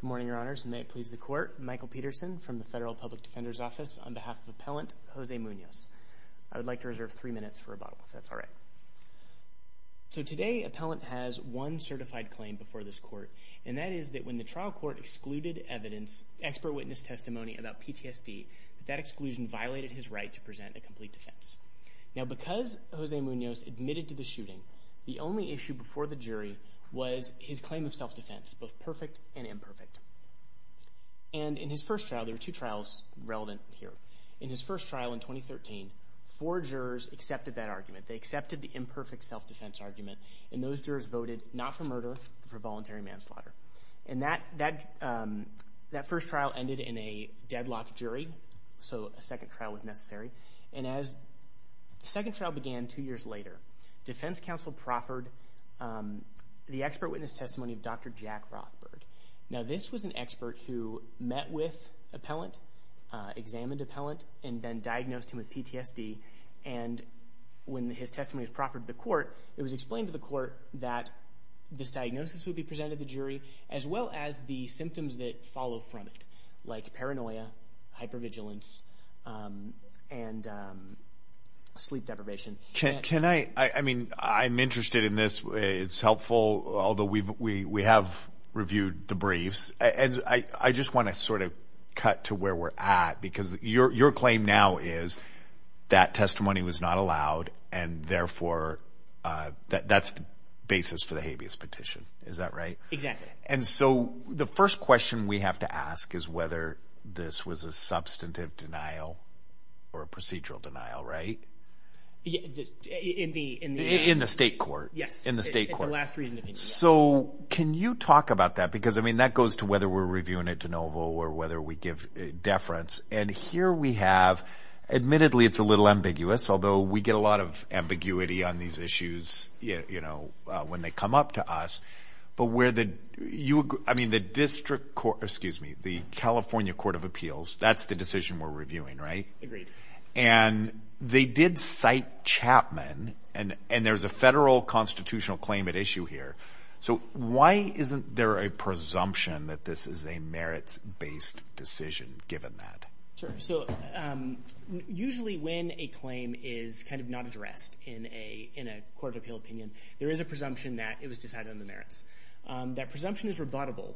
Good morning, your honors, and may it please the court, Michael Peterson from the Federal Public Defender's Office on behalf of Appellant Jose Munoz. I would like to reserve three minutes for rebuttal, if that's all right. So today, Appellant has one certified claim before this court, and that is that when the trial court excluded evidence, expert witness testimony about PTSD, that exclusion violated his right to present a complete defense. Now, because Jose Munoz admitted to the shooting, the only issue before the jury was his claim of self-defense, both perfect and imperfect. And in his first trial, there were two trials relevant here. In his first trial in 2013, four jurors accepted that argument. They accepted the imperfect self-defense argument, and those jurors voted not for murder, but for voluntary manslaughter. And that first trial ended in a deadlock jury, so a second trial was necessary. And as the second trial began two years later, Defense Counsel proffered the expert witness testimony of Dr. Jack Rothberg. Now, this was an expert who met with Appellant, examined Appellant, and then diagnosed him with PTSD. And when his testimony was proffered to the court, it was explained to the court that this diagnosis would be presented to the jury, as well as the symptoms that follow from it, like paranoia, hypervigilance, and sleep deprivation. Can I, I mean, I'm interested in this. It's helpful, although we have reviewed the briefs. And I just want to sort of cut to where we're at, because your claim now is that testimony was not allowed, and therefore that's the basis for the habeas petition. Is that right? Exactly. And so, the first question we have to ask is whether this was a substantive denial or a procedural denial, right? In the... In the state court. Yes. In the state court. It's the last reason that we need to talk about it. So, can you talk about that? Because, I mean, that goes to whether we're reviewing it de novo, or whether we give deference. And here we have, admittedly, it's a little ambiguous, although we get a lot of ambiguity on these issues, you know, when they come up to us. But where the, you, I mean, the district court, excuse me, the California Court of Appeals, that's the decision we're reviewing, right? Agreed. And they did cite Chapman, and there's a federal constitutional claim at issue here. So, why isn't there a presumption that this is a merits-based decision, given that? Sure. So, usually when a claim is kind of not addressed in a court of appeal opinion, there is a presumption that it was decided on the merits. That presumption is rebuttable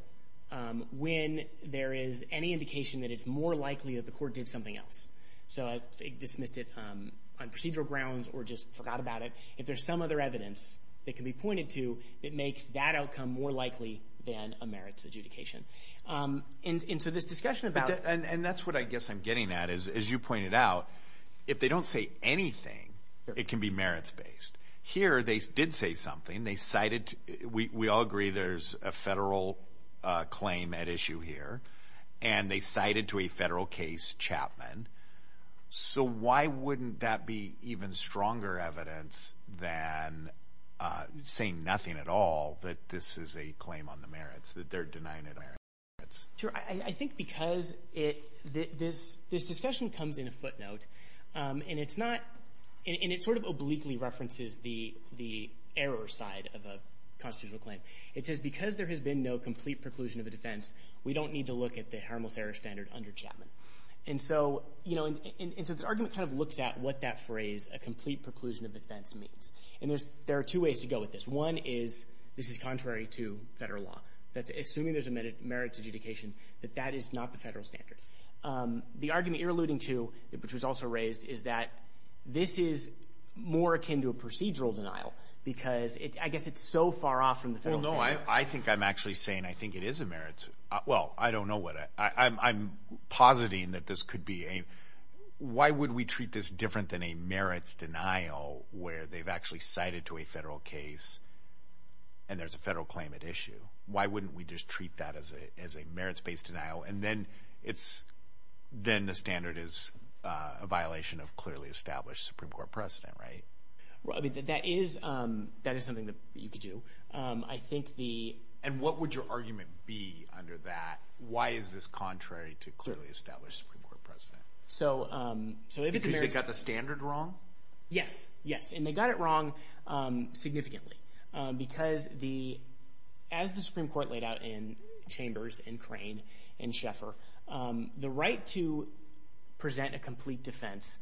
when there is any indication that it's more likely that the court did something else. So, if it dismissed it on procedural grounds, or just forgot about it, if there's some other evidence that can be pointed to that makes that outcome more likely than a merits adjudication. And so, this discussion about... And that's what I guess I'm getting at, is, as you pointed out, if they don't say anything, it can be merits-based. Here, they did say something. They cited... We all agree there's a federal claim at issue here. And they cited to a federal case Chapman. So, why wouldn't that be even stronger evidence than saying nothing at all that this is a claim on the merits, that they're denying it on the merits? Sure. I think because this discussion comes in a footnote, and it's not... And it sort of obliquely references the error side of a constitutional claim. It says, because there has been no complete preclusion of a defense, we don't need to look at the Hermel-Serra standard under Chapman. And so, this argument kind of looks at what that phrase, a complete preclusion of defense, means. And there are two ways to go with this. One is, this is contrary to federal law. Assuming there's a merits adjudication, that that is not the federal standard. The argument you're alluding to, which was also raised, is that this is more akin to a procedural denial. Because, I guess it's so far off from the federal standard. I think I'm actually saying, I think it is a merits... Well, I don't know what... I'm positing that this could be a... Why would we treat this different than a merits denial, where they've actually cited to a federal case, and there's a federal claim at issue? Why wouldn't we just treat that as a merits-based denial? And then, the standard is a violation of clearly-established Supreme Court precedent, right? Well, I mean, that is something that you could do. I think the... And what would your argument be under that? Why is this contrary to clearly-established Supreme Court precedent? So, if it's a merits... Because they got the standard wrong? Yes, yes. And they got it wrong significantly. Because, as the Supreme Court laid out in Chambers and Crane, and Schaeffer, the right to present a complete defense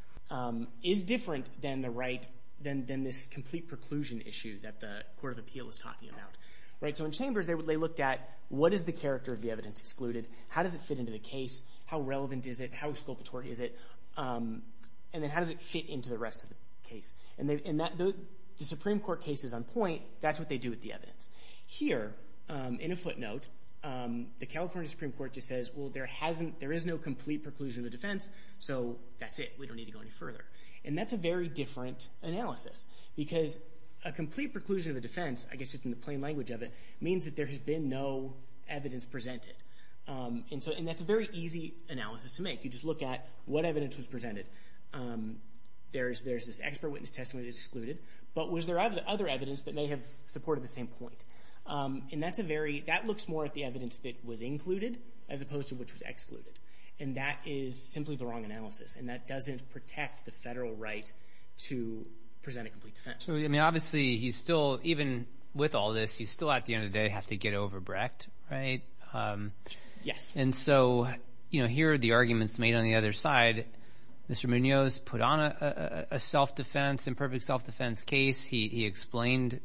is different than the right... Than this complete preclusion issue that the Court of Appeal is talking about. So, in Chambers, they looked at, what is the character of the evidence excluded? How does it fit into the case? How relevant is it? How exculpatory is it? And then, how does it fit into the rest of the case? And the Supreme Court case is on point. That's what they do with the evidence. Here, in a footnote, the California Supreme Court just says, well, there is no complete preclusion of a defense, so that's it. We don't need to go any further. And that's a very different analysis. Because a complete preclusion of a defense, I guess just in the plain language of it, means that there has been no evidence presented. And that's a very easy analysis to make. You just look at what evidence was presented. There's this expert witness testimony that's excluded. But was there other evidence that may have supported the same point? And that looks more at the evidence that was included, as opposed to which was excluded. And that is simply the wrong analysis. And that doesn't protect the federal right to present a complete defense. So, I mean, obviously, he's still, even with all this, he's still, at the end of the day, have to get over Brecht, right? Yes. And so, here are the arguments made on the other side. Mr. Munoz put on a self-defense, imperfect self-defense case. He explained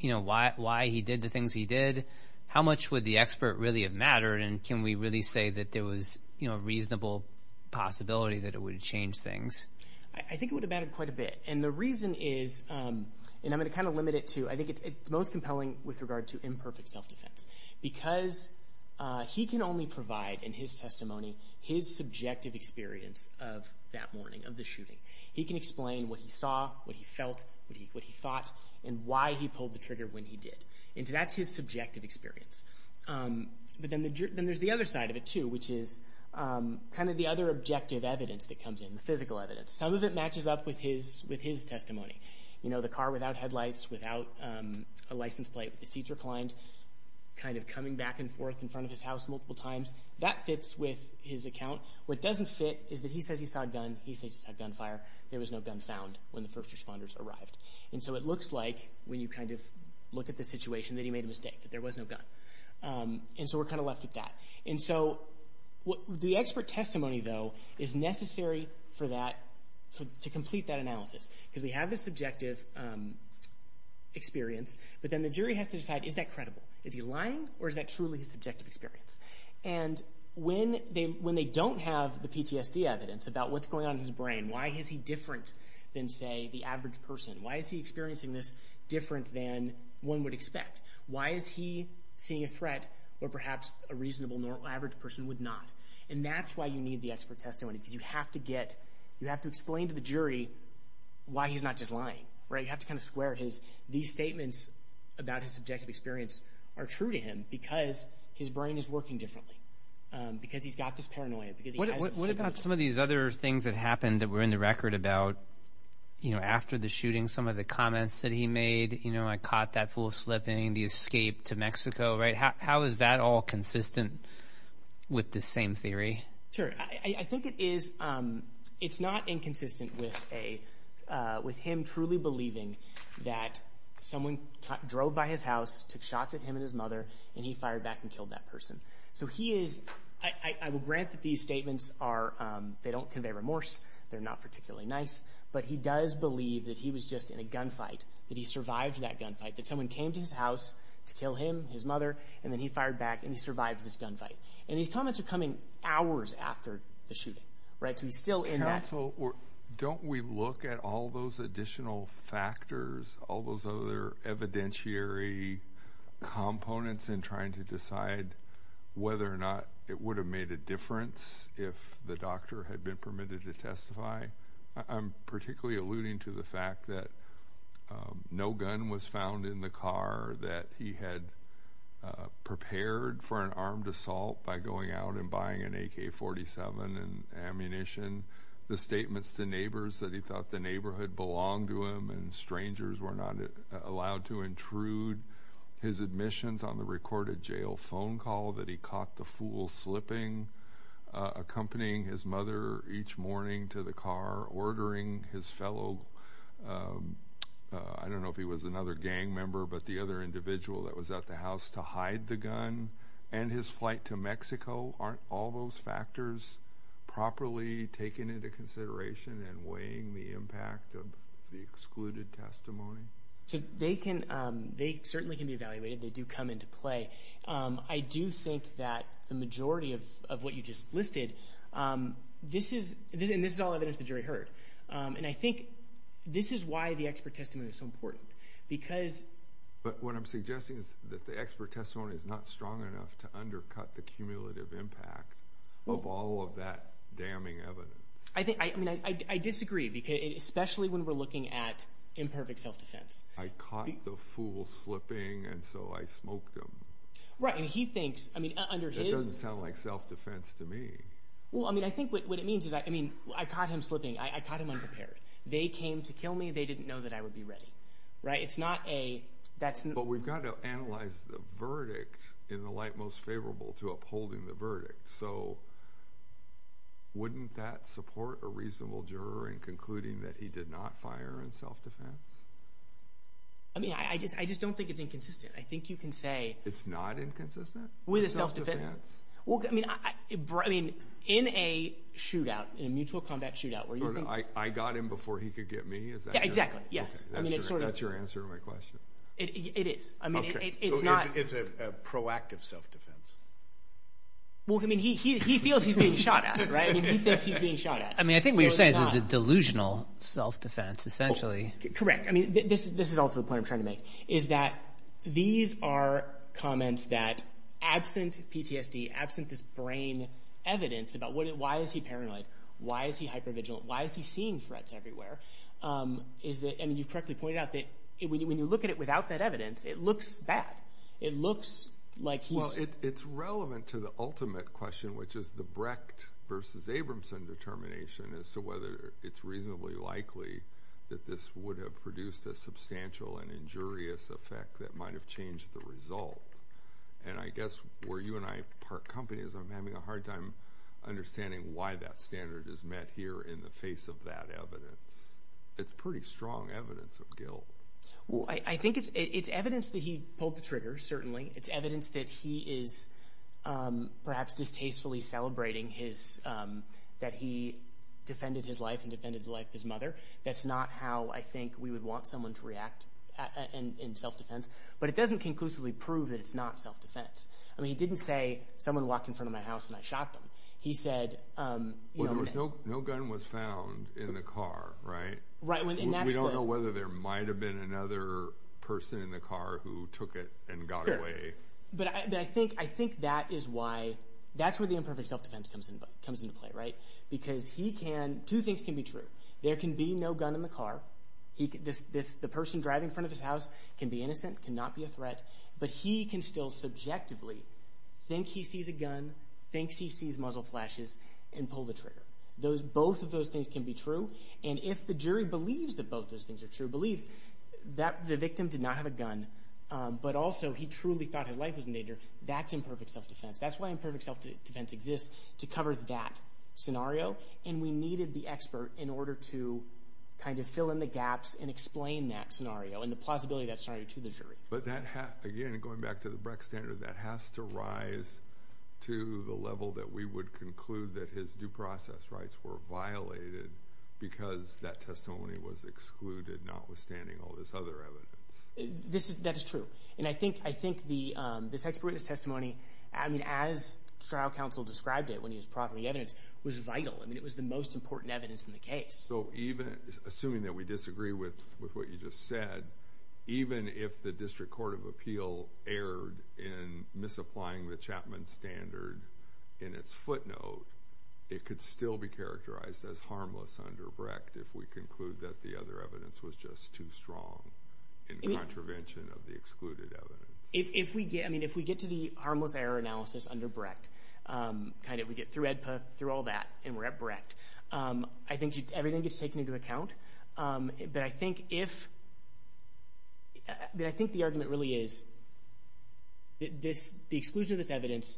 why he did the things he did. How much would the expert really have mattered? And can we really say that there was a reasonable possibility that it would have changed things? I think it would have mattered quite a bit. And the reason is, and I'm gonna kind of limit it to, I think it's most compelling with regard to imperfect self-defense. Because he can only provide, in his testimony, his subjective experience of that morning, of the shooting. He can explain what he saw, what he felt, what he thought, and why he pulled the trigger when he did. And so, that's his subjective experience. But then there's the other side of it, too, which is kind of the other objective evidence that comes in, the physical evidence. Some of it matches up with his testimony. You know, the car without headlights, without a license plate, with the seats reclined, kind of coming back and forth in front of his house multiple times. That fits with his account. What doesn't fit is that he says he saw a gun, he says he saw gunfire. There was no gun found when the first responders arrived. And so, it looks like, when you kind of look at the situation, that he made a mistake, that there was no gun. And so, we're kind of left with that. And so, the expert testimony, though, is necessary for that, to complete that analysis. Because we have the subjective experience, but then the jury has to decide, is that credible? Is he lying, or is that truly his subjective experience? And when they don't have the PTSD evidence about what's going on in his brain, why is he different than, say, the average person? Why is he experiencing this different than one would expect? Why is he seeing a threat where, perhaps, a reasonable average person would not? And that's why you need the expert testimony, because you have to get, you have to explain to the jury why he's not just lying, right? You have to kind of square his, these statements about his subjective experience are true to him, because his brain is working differently, because he's got this paranoia, because he hasn't seen it. What about some of these other things that happened that were in the record about, you know, after the shooting, some of the comments that he made, you know, I caught that fool slipping, the escape to Mexico, right? How is that all consistent with the same theory? Sure, I think it is, it's not inconsistent with a, with him truly believing that someone drove by his house, took shots at him and his mother, and he fired back and killed that person. So he is, I will grant that these statements are, they don't convey remorse, they're not particularly nice, but he does believe that he was just in a gunfight, that he survived that gunfight, that someone came to his house to kill him, his mother, and then he fired back and he survived this gunfight. And these comments are coming hours after the shooting, right, so he's still in that. Counsel, don't we look at all those additional factors, all those other evidentiary components in trying to decide whether or not it would have made a difference if the doctor had been permitted to testify? I'm particularly alluding to the fact that no gun was found in the car, that he had prepared for an armed assault by going out and buying an AK-47 and ammunition, the statements to neighbors that he thought the neighborhood belonged to him and strangers were not allowed to intrude, his admissions on the recorded jail phone call that he caught the fool slipping, accompanying his mother each morning to the car, ordering his fellow, I don't know if he was another gang member, but the other individual that was at the house to hide the gun, and his flight to Mexico, aren't all those factors properly taken into consideration and weighing the impact of the excluded testimony? So they can, they certainly can be evaluated, they do come into play. I do think that the majority of what you just listed, this is, and this is all evidence the jury heard, and I think this is why the expert testimony is so important, because- But what I'm suggesting is that the expert testimony is not strong enough to undercut the cumulative impact of all of that damning evidence. I think, I mean, I disagree, especially when we're looking at imperfect self-defense. I caught the fool slipping, and so I smoked him. Right, and he thinks, I mean, under his- That doesn't sound like self-defense to me. Well, I mean, I think what it means is, I mean, I caught him slipping, I caught him unprepared. They came to kill me, they didn't know that I would be ready, right? It's not a, that's- But we've got to analyze the verdict in the light most favorable to upholding the verdict. So wouldn't that support a reasonable juror in concluding that he did not fire in self-defense? I mean, I just don't think it's inconsistent. I think you can say- It's not inconsistent? With a self-defense? Well, I mean, in a shootout, in a mutual combat shootout, where you think- I got him before he could get me? Is that- Yeah, exactly, yes. I mean, it's sort of- That's your answer to my question? It is. I mean, it's not- It's a proactive self-defense. Well, I mean, he feels he's being shot at, right? I mean, he thinks he's being shot at. I mean, I think what you're saying is it's a delusional self-defense, essentially. Correct. I mean, this is also the point I'm trying to make, is that these are comments that, absent PTSD, absent this brain evidence about why is he paranoid, why is he hypervigilant, why is he seeing threats everywhere, is that, I mean, you correctly pointed out that when you look at it without that evidence, it looks bad. It looks like he's- Well, it's relevant to the ultimate question, which is the Brecht versus Abramson determination as to whether it's reasonably likely that this would have produced a substantial and injurious effect that might've changed the result. And I guess, where you and I part companies, I'm having a hard time understanding why that standard is met here in the face of that evidence. It's pretty strong evidence of guilt. Well, I think it's evidence that he pulled the trigger, certainly. It's evidence that he is, perhaps distastefully celebrating his, that he defended his life and defended the life of his mother that's not how, I think, we would want someone to react in self-defense, but it doesn't conclusively prove that it's not self-defense. I mean, he didn't say, someone walked in front of my house and I shot them. He said- Well, no gun was found in the car, right? Right, when- We don't know whether there might've been another person in the car who took it and got away. But I think that is why, that's where the imperfect self-defense comes into play, right? Because he can, two things can be true. There can be no gun in the car. The person driving in front of his house can be innocent, cannot be a threat, but he can still subjectively think he sees a gun, thinks he sees muzzle flashes and pull the trigger. Those, both of those things can be true. And if the jury believes that both those things are true, believes that the victim did not have a gun, but also he truly thought his life was in danger, that's imperfect self-defense. That's why imperfect self-defense exists, to cover that scenario. And we needed the expert in order to kind of fill in the gaps and explain that scenario and the plausibility of that scenario to the jury. But that has, again, going back to the Brecht standard, that has to rise to the level that we would conclude that his due process rights were violated because that testimony was excluded, notwithstanding all this other evidence. That's true. And I think this expert in his testimony, I mean, as trial counsel described it when he was propping the evidence, was vital. I mean, it was the most important evidence in the case. So even, assuming that we disagree with what you just said, even if the District Court of Appeal erred in misapplying the Chapman standard in its footnote, it could still be characterized as harmless under Brecht if we conclude that the other evidence was just too strong in contravention of the excluded evidence. If we get, I mean, if we get to the harmless error analysis under Brecht, kind of, we get through AEDPA, through all that, and we're at Brecht, I think everything gets taken into account. But I think if, that I think the argument really is that this, the exclusion of this evidence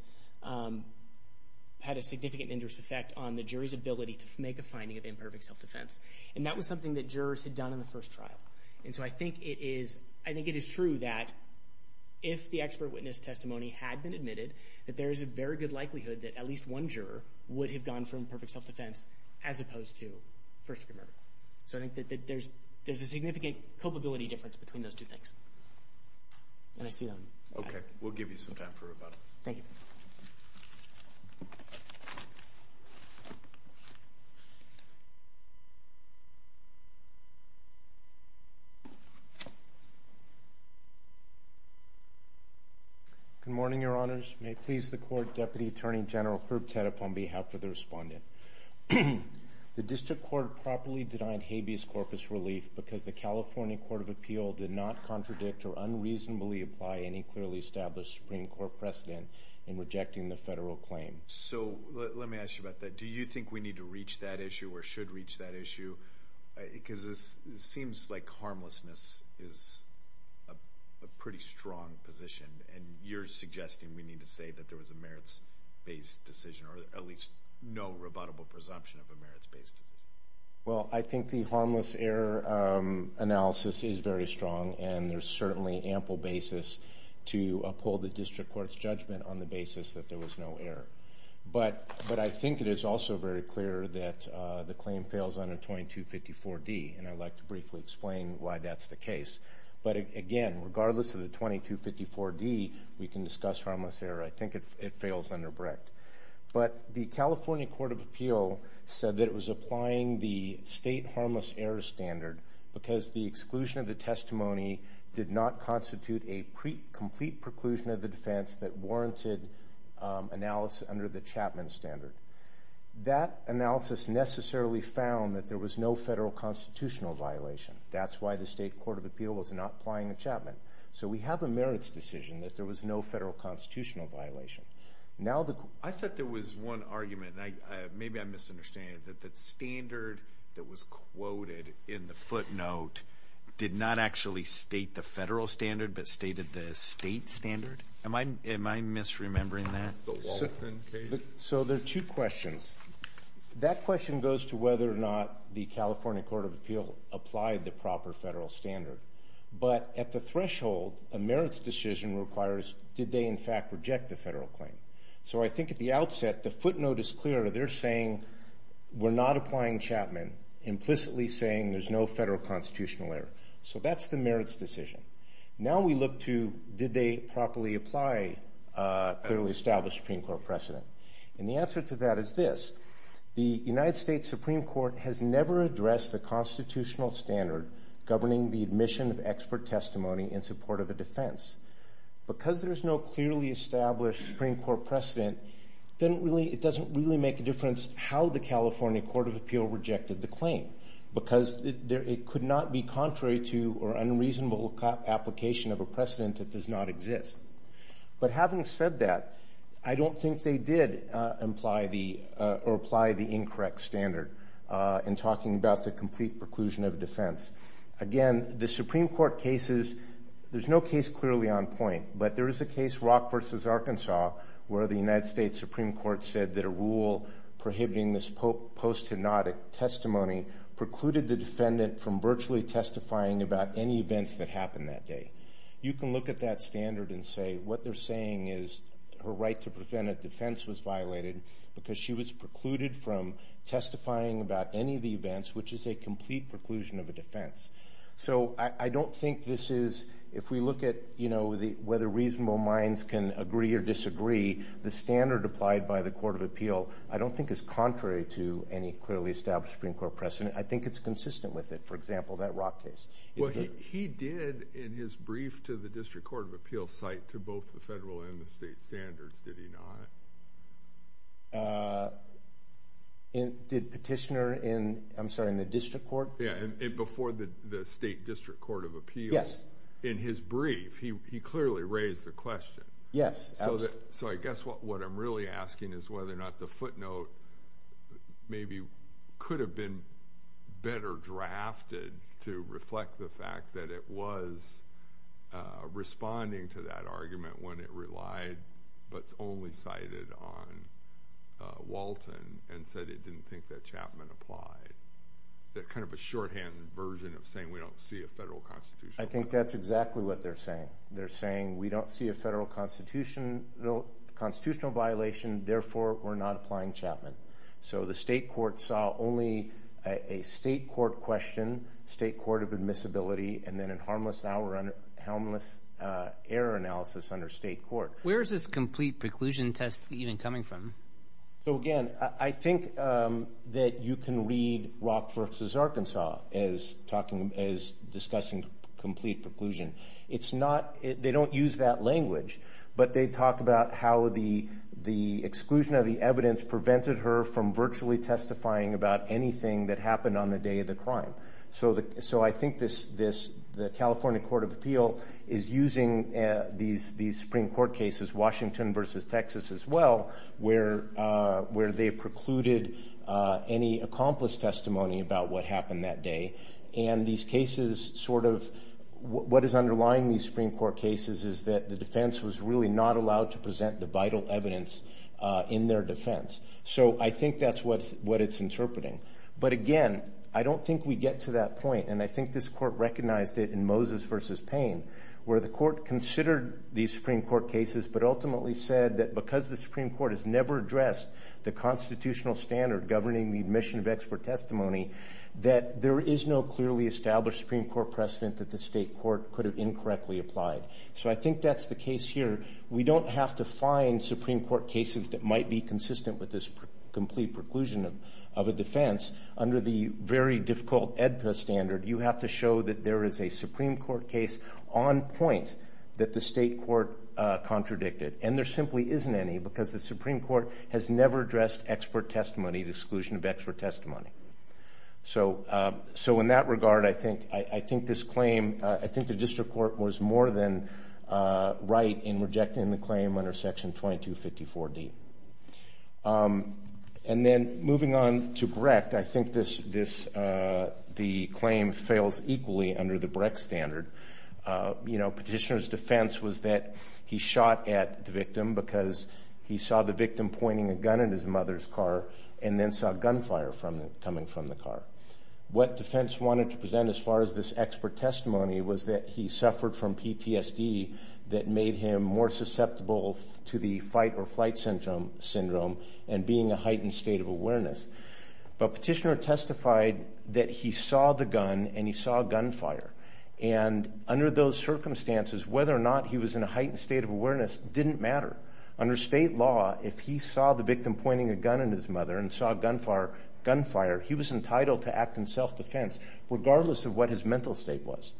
had a significant injurious effect on the jury's ability to make a finding of imperfect self-defense. And that was something that jurors had done in the first trial. And so I think it is, I think it is true that if the expert witness testimony had been admitted that there is a very good likelihood that at least one juror would have gone from imperfect self-defense as opposed to first degree murder. So I think that there's a significant culpability difference between those two things. And I see them. Okay, we'll give you some time for rebuttal. Thank you. Good morning, your honors. May it please the court, Deputy Attorney General Herb Tediff on behalf of the respondent. The district court properly denied habeas corpus relief because the California Court of Appeal did not contradict or unreasonably apply any clearly established Supreme Court precedent in rejecting the federal claim. So let me ask you about that. Do you think we need to reach that issue or should reach that issue? Because it seems like harmlessness is a pretty strong position. And you're suggesting we need to say that there was a merits-based decision or at least no rebuttable presumption of a merits-based decision. Well, I think the harmless error analysis is very strong and there's certainly ample basis to uphold the district court's judgment on the basis that there was no error. But I think it is also very clear that the claim fails under 2254D. And I'd like to briefly explain why that's the case. But again, regardless of the 2254D, we can discuss harmless error. I think it fails under BRICT. But the California Court of Appeal said that it was applying the state harmless error standard because the exclusion of the testimony did not constitute a complete preclusion of the defense that warranted analysis under the Chapman standard. That analysis necessarily found that there was no federal constitutional violation. That's why the state court of appeal was not applying the Chapman. So we have a merits decision that there was no federal constitutional violation. Now the- I thought there was one argument, and maybe I'm misunderstanding it, but the standard that was quoted in the footnote did not actually state the federal standard, but stated the state standard. Am I misremembering that? So there are two questions. That question goes to whether or not the California Court of Appeal applied the proper federal standard. But at the threshold, a merits decision requires, did they in fact reject the federal claim? So I think at the outset, the footnote is clear. They're saying we're not applying Chapman, implicitly saying there's no federal constitutional error. So that's the merits decision. Now we look to, did they properly apply clearly established Supreme Court precedent? And the answer to that is this. The United States Supreme Court has never addressed the constitutional standard governing the admission of expert testimony in support of a defense. Because there's no clearly established Supreme Court precedent, it doesn't really make a difference how the California Court of Appeal rejected the claim. Because it could not be contrary to or unreasonable application of a precedent that does not exist. But having said that, I don't think they did imply the, or apply the incorrect standard in talking about the complete preclusion of defense. Again, the Supreme Court cases, there's no case clearly on point, but there is a case, Rock versus Arkansas, where the United States Supreme Court said that a rule prohibiting this post-hypnotic testimony precluded the defendant from virtually testifying about any events that happened that day. You can look at that standard and say, what they're saying is, her right to prevent a defense was violated because she was precluded from testifying about any of the events, which is a complete preclusion of a defense. So I don't think this is, if we look at whether reasonable minds can agree or disagree, the standard applied by the Court of Appeal I don't think is contrary to any clearly established Supreme Court precedent. I think it's consistent with it. For example, that Rock case. It's very- He did, in his brief to the District Court of Appeal, cite to both the federal and the state standards, did he not? Did petitioner in, I'm sorry, in the district court? Yeah, and before the State District Court of Appeal. Yes. In his brief, he clearly raised the question. Yes, absolutely. So I guess what I'm really asking is whether or not the footnote maybe could have been better drafted to reflect the fact that it was responding to that argument when it relied, but only cited on Walton, and said it didn't think that Chapman applied. That kind of a shorthand version of saying we don't see a federal constitutional- I think that's exactly what they're saying. They're saying we don't see a federal constitutional violation, therefore we're not applying Chapman. So the state court saw only a state court question, state court of admissibility, and then a harmless error analysis under state court. Where is this complete preclusion test even coming from? So again, I think that you can read Rock versus Arkansas as discussing complete preclusion. It's not, they don't use that language, but they talk about how the exclusion of the evidence prevented her from virtually testifying about anything that happened on the day of the crime. So I think the California Court of Appeal is using these Supreme Court cases, Washington versus Texas as well, where they precluded any accomplice testimony about what happened that day. And these cases sort of, what is underlying these Supreme Court cases is that the defense was really not allowed to present the vital evidence in their defense. So I think that's what it's interpreting. But again, I don't think we get to that point, and I think this court recognized it in Moses versus Payne, where the court considered these Supreme Court cases, but ultimately said that because the Supreme Court has never addressed the constitutional standard governing the admission of expert testimony, that there is no clearly established Supreme Court precedent that the state court could have incorrectly applied. So I think that's the case here. We don't have to find Supreme Court cases that might be consistent with this complete preclusion of a defense. Under the very difficult AEDPA standard, you have to show that there is a Supreme Court case on point that the state court contradicted. And there simply isn't any, because the Supreme Court has never addressed expert testimony, the exclusion of expert testimony. So in that regard, I think this claim, I think the district court was more than right in rejecting the claim under section 2254D. And then moving on to Brecht, I think the claim fails equally under the Brecht standard. You know, petitioner's defense was that he shot at the victim because he saw the victim pointing a gun at his mother's car and then saw gunfire coming from the car. What defense wanted to present as far as this expert testimony was that he suffered from PTSD that made him more susceptible to the fight or flight syndrome and being a heightened state of awareness. But petitioner testified that he saw the gun and he saw gunfire. And under those circumstances, whether or not he was in a heightened state of awareness didn't matter. Under state law, if he saw the victim pointing a gun at his mother and saw gunfire, he was entitled to act in self-defense, regardless of what his mental state was.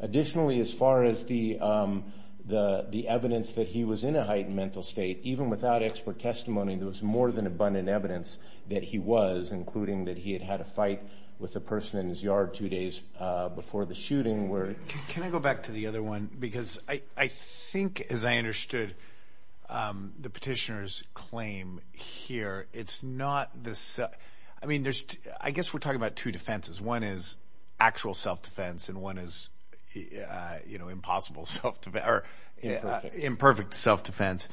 Additionally, as far as the evidence that he was in a heightened mental state, even without expert testimony, there was more than abundant evidence that he was, including that he had had a fight with a person in his yard two days before the shooting. Can I go back to the other one? Because I think, as I understood the petitioner's claim here, it's not this, I mean, there's, I guess we're talking about two defenses. One is actual self-defense and one is, you know, impossible self-defense, or imperfect self-defense.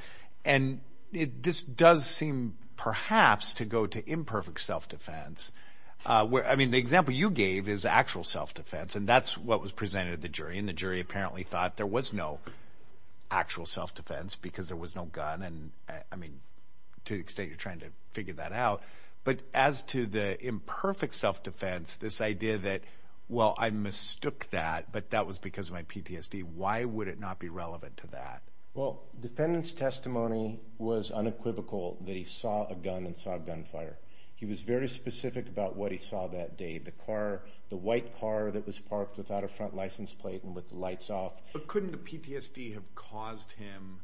And this does seem perhaps to go to imperfect self-defense. I mean, the example you gave is actual self-defense and that's what was presented at the jury. And the jury apparently thought there was no actual self-defense because there was no gun. And I mean, to the extent you're trying to figure that out. But as to the imperfect self-defense, this idea that, well, I mistook that, but that was because of my PTSD. Why would it not be relevant to that? Well, defendant's testimony was unequivocal that he saw a gun and saw gunfire. He was very specific about what he saw that day. The car, the white car that was parked without a front license plate and with the lights off. But couldn't the PTSD have caused him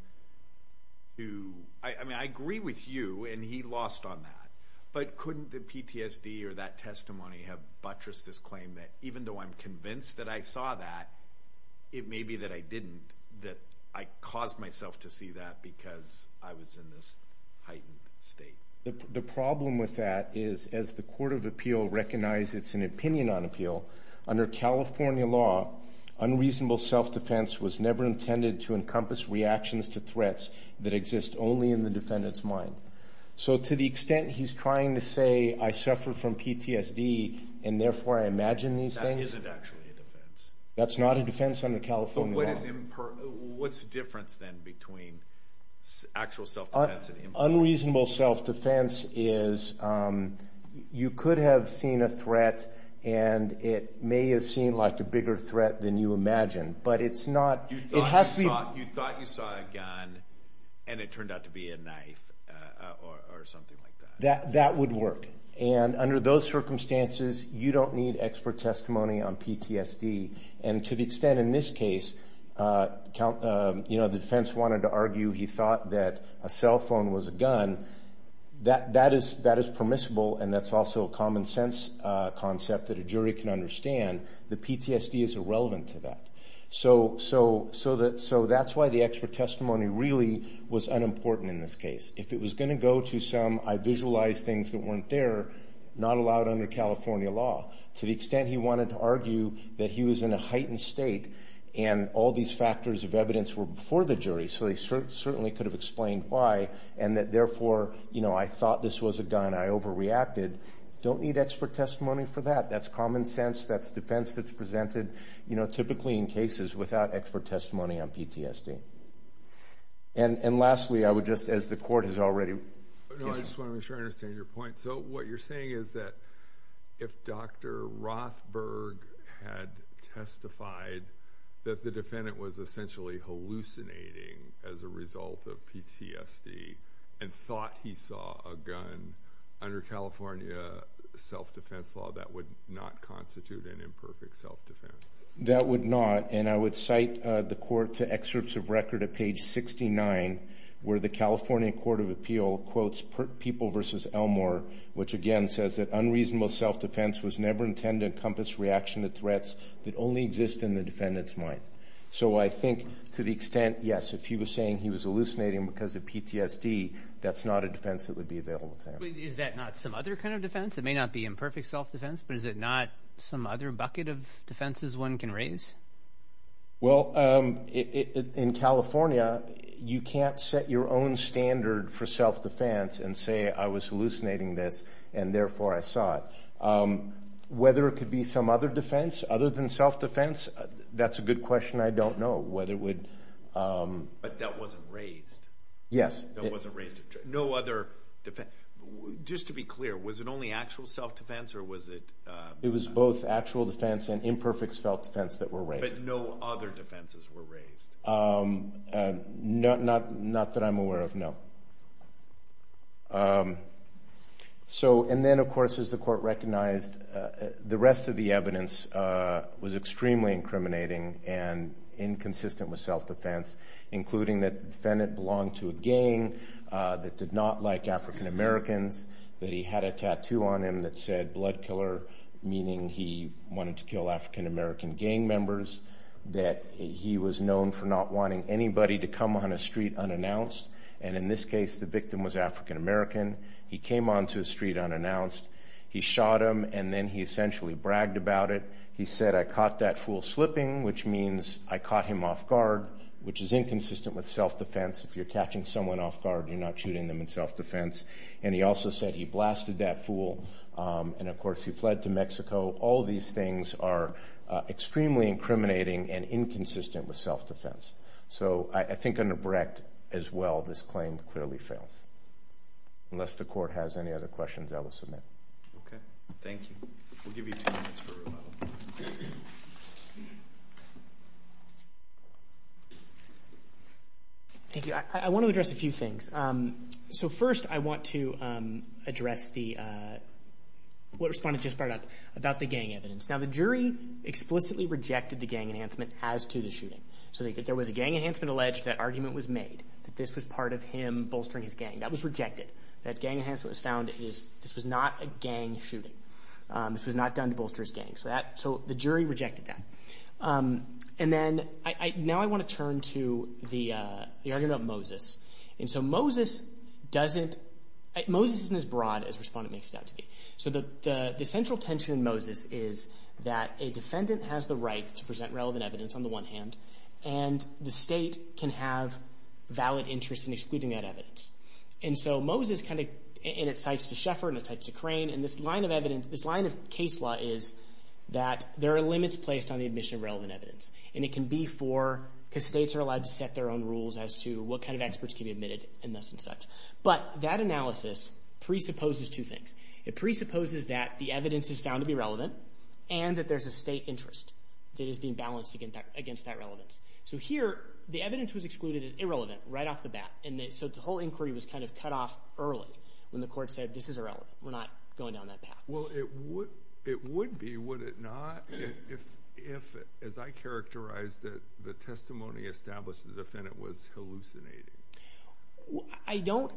to, I mean, I agree with you and he lost on that, but couldn't the PTSD or that testimony have buttressed this claim that, even though I'm convinced that I saw that, it may be that I didn't, that I caused myself to see that because I was in this heightened state. The problem with that is as the Court of Appeal recognizes it's an opinion on appeal, under California law, unreasonable self-defense was never intended to encompass reactions to threats that exist only in the defendant's mind. So to the extent he's trying to say, I suffer from PTSD and therefore I imagine these things. That isn't actually a defense. That's not a defense under California law. But what is, what's the difference then between actual self-defense and imper... Unreasonable self-defense is, you could have seen a threat and it may have seemed like a bigger threat than you imagined, but it's not, it has to be... You thought you saw a gun and it turned out to be a knife or something like that. That would work. And under those circumstances, you don't need expert testimony on PTSD. And to the extent in this case, the defense wanted to argue he thought that a cell phone was a gun, that is permissible and that's also a common sense concept that a jury can understand, that PTSD is irrelevant to that. So that's why the expert testimony really was unimportant in this case. If it was gonna go to some, I visualized things that weren't there, not allowed under California law. To the extent he wanted to argue that he was in a heightened state and all these factors of evidence were before the jury, so they certainly could have explained why, and that therefore, I thought this was a gun, and I overreacted, don't need expert testimony for that. That's common sense, that's defense that's presented, typically in cases without expert testimony on PTSD. And lastly, I would just, as the court has already... No, I just wanna make sure I understand your point. So what you're saying is that if Dr. Rothberg had testified that the defendant was essentially hallucinating as a result of PTSD and thought he saw a gun under California self-defense law, that would not constitute an imperfect self-defense? That would not, and I would cite the court to excerpts of record at page 69, where the California Court of Appeal quotes People v. Elmore, which again, says that unreasonable self-defense was never intended to encompass reaction to threats that only exist in the defendant's mind. So I think, to the extent, yes, if he was saying he was hallucinating because of PTSD, that's not a defense that would be available to him. Is that not some other kind of defense? It may not be imperfect self-defense, but is it not some other bucket of defenses one can raise? Well, in California, you can't set your own standard for self-defense and say, I was hallucinating this, and therefore, I saw it. Whether it could be some other defense, other than self-defense, that's a good question. I don't know whether it would... But that wasn't raised? Yes. That wasn't raised? No other defense? Just to be clear, was it only actual self-defense, or was it... It was both actual defense and imperfect self-defense that were raised. But no other defenses were raised? Not that I'm aware of, no. So, and then, of course, as the court recognized, the rest of the evidence was extremely incriminating and inconsistent with self-defense, including that the defendant belonged to a gang that did not like African-Americans, that he had a tattoo on him that said blood killer, meaning he wanted to kill African-American gang members, that he was known for not wanting anybody to come on a street unannounced, and in this case, the victim was African-American. He came onto a street unannounced. He shot him, and then he essentially bragged about it. He said, I caught that fool slipping, which means I caught him off guard, which is inconsistent with self-defense. If you're catching someone off guard, you're not shooting them in self-defense. And he also said he blasted that fool, and of course, he fled to Mexico. All these things are extremely incriminating and inconsistent with self-defense. So I think under Brecht, as well, this claim clearly fails, unless the court has any other questions, I will submit. Okay, thank you. We'll give you two minutes for rebuttal. Thank you. I want to address a few things. So first, I want to address what Respondent just brought up about the gang evidence. Now, the jury explicitly rejected the gang enhancement as to the shooting. So there was a gang enhancement alleged, that argument was made, that this was part of him bolstering his gang. That was rejected. That gang enhancement was found, this was not a gang shooting. This was not done to bolster his gang. So the jury rejected that. And then, now I want to turn to the argument about Moses. And so Moses doesn't, Moses isn't as broad as Respondent makes it out to be. So the central tension in Moses is that a defendant has the right to present relevant evidence on the one hand, and the state can have valid interest in excluding that evidence. And so Moses kind of, and it cites to Sheffer, and it cites to Crane, and this line of evidence, this line of case law is that there are limits placed on the admission of relevant evidence. And it can be for, because states are allowed to set their own rules as to what kind of experts can be admitted, and thus and such. But that analysis presupposes two things. It presupposes that the evidence is found to be relevant, and that there's a state interest that is being balanced against that relevance. So here, the evidence was excluded as irrelevant right off the bat. And so the whole inquiry was kind of cut off early when the court said, this is irrelevant. We're not going down that path. Well, it would be, would it not, if, as I characterized it, the testimony established the defendant was hallucinating? I don't,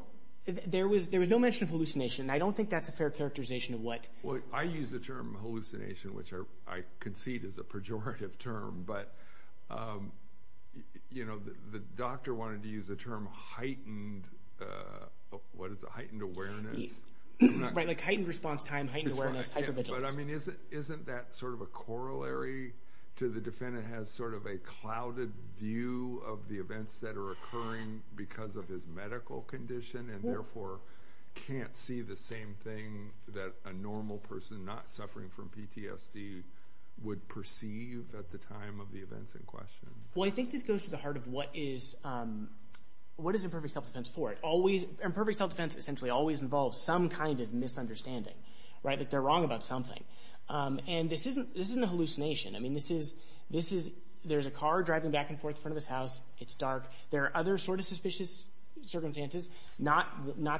there was no mention of hallucination. I don't think that's a fair characterization of what. Well, I use the term hallucination, which I concede is a pejorative term, but the doctor wanted to use the term heightened, what is it, heightened awareness? Right, like heightened response time, heightened awareness, hypervigilance. But I mean, isn't that sort of a corollary to the defendant has sort of a clouded view of the events that are occurring because of his medical condition, and therefore can't see the same thing that a normal person not suffering from PTSD would perceive at the time of the events in question. Well, I think this goes to the heart of what is, what is imperfect self-defense for? It always, imperfect self-defense essentially always involves some kind of misunderstanding, right? Like they're wrong about something. And this isn't a hallucination. I mean, this is, there's a car driving back and forth in front of his house, it's dark. There are other sort of suspicious circumstances, not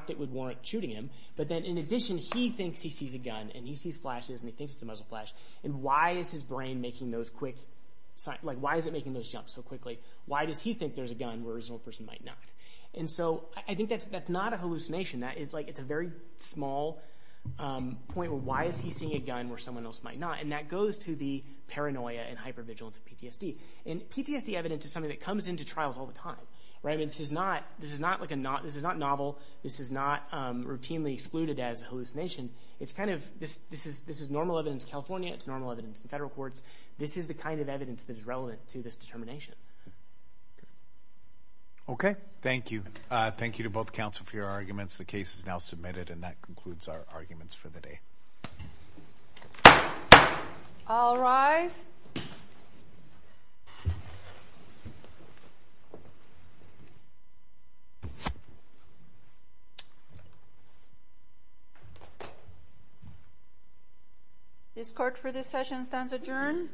that would warrant shooting him, but then in addition, he thinks he sees a gun and he sees flashes and he thinks it's a muzzle flash. And why is his brain making those quick, like why is it making those jumps so quickly? Why does he think there's a gun where his normal person might not? And so I think that's not a hallucination. That is like, it's a very small point where why is he seeing a gun where someone else might not? And that goes to the paranoia and hypervigilance of PTSD. And PTSD evidence is something that comes into trials all the time, right? I mean, this is not like a, this is not novel. This is not routinely excluded as a hallucination. It's kind of, this is normal evidence in California. It's normal evidence in federal courts. This is the kind of evidence that is relevant to this determination. Okay, thank you. Thank you to both counsel for your arguments. The case is now submitted and that concludes our arguments for the day. I'll rise. This court for this session stands adjourned.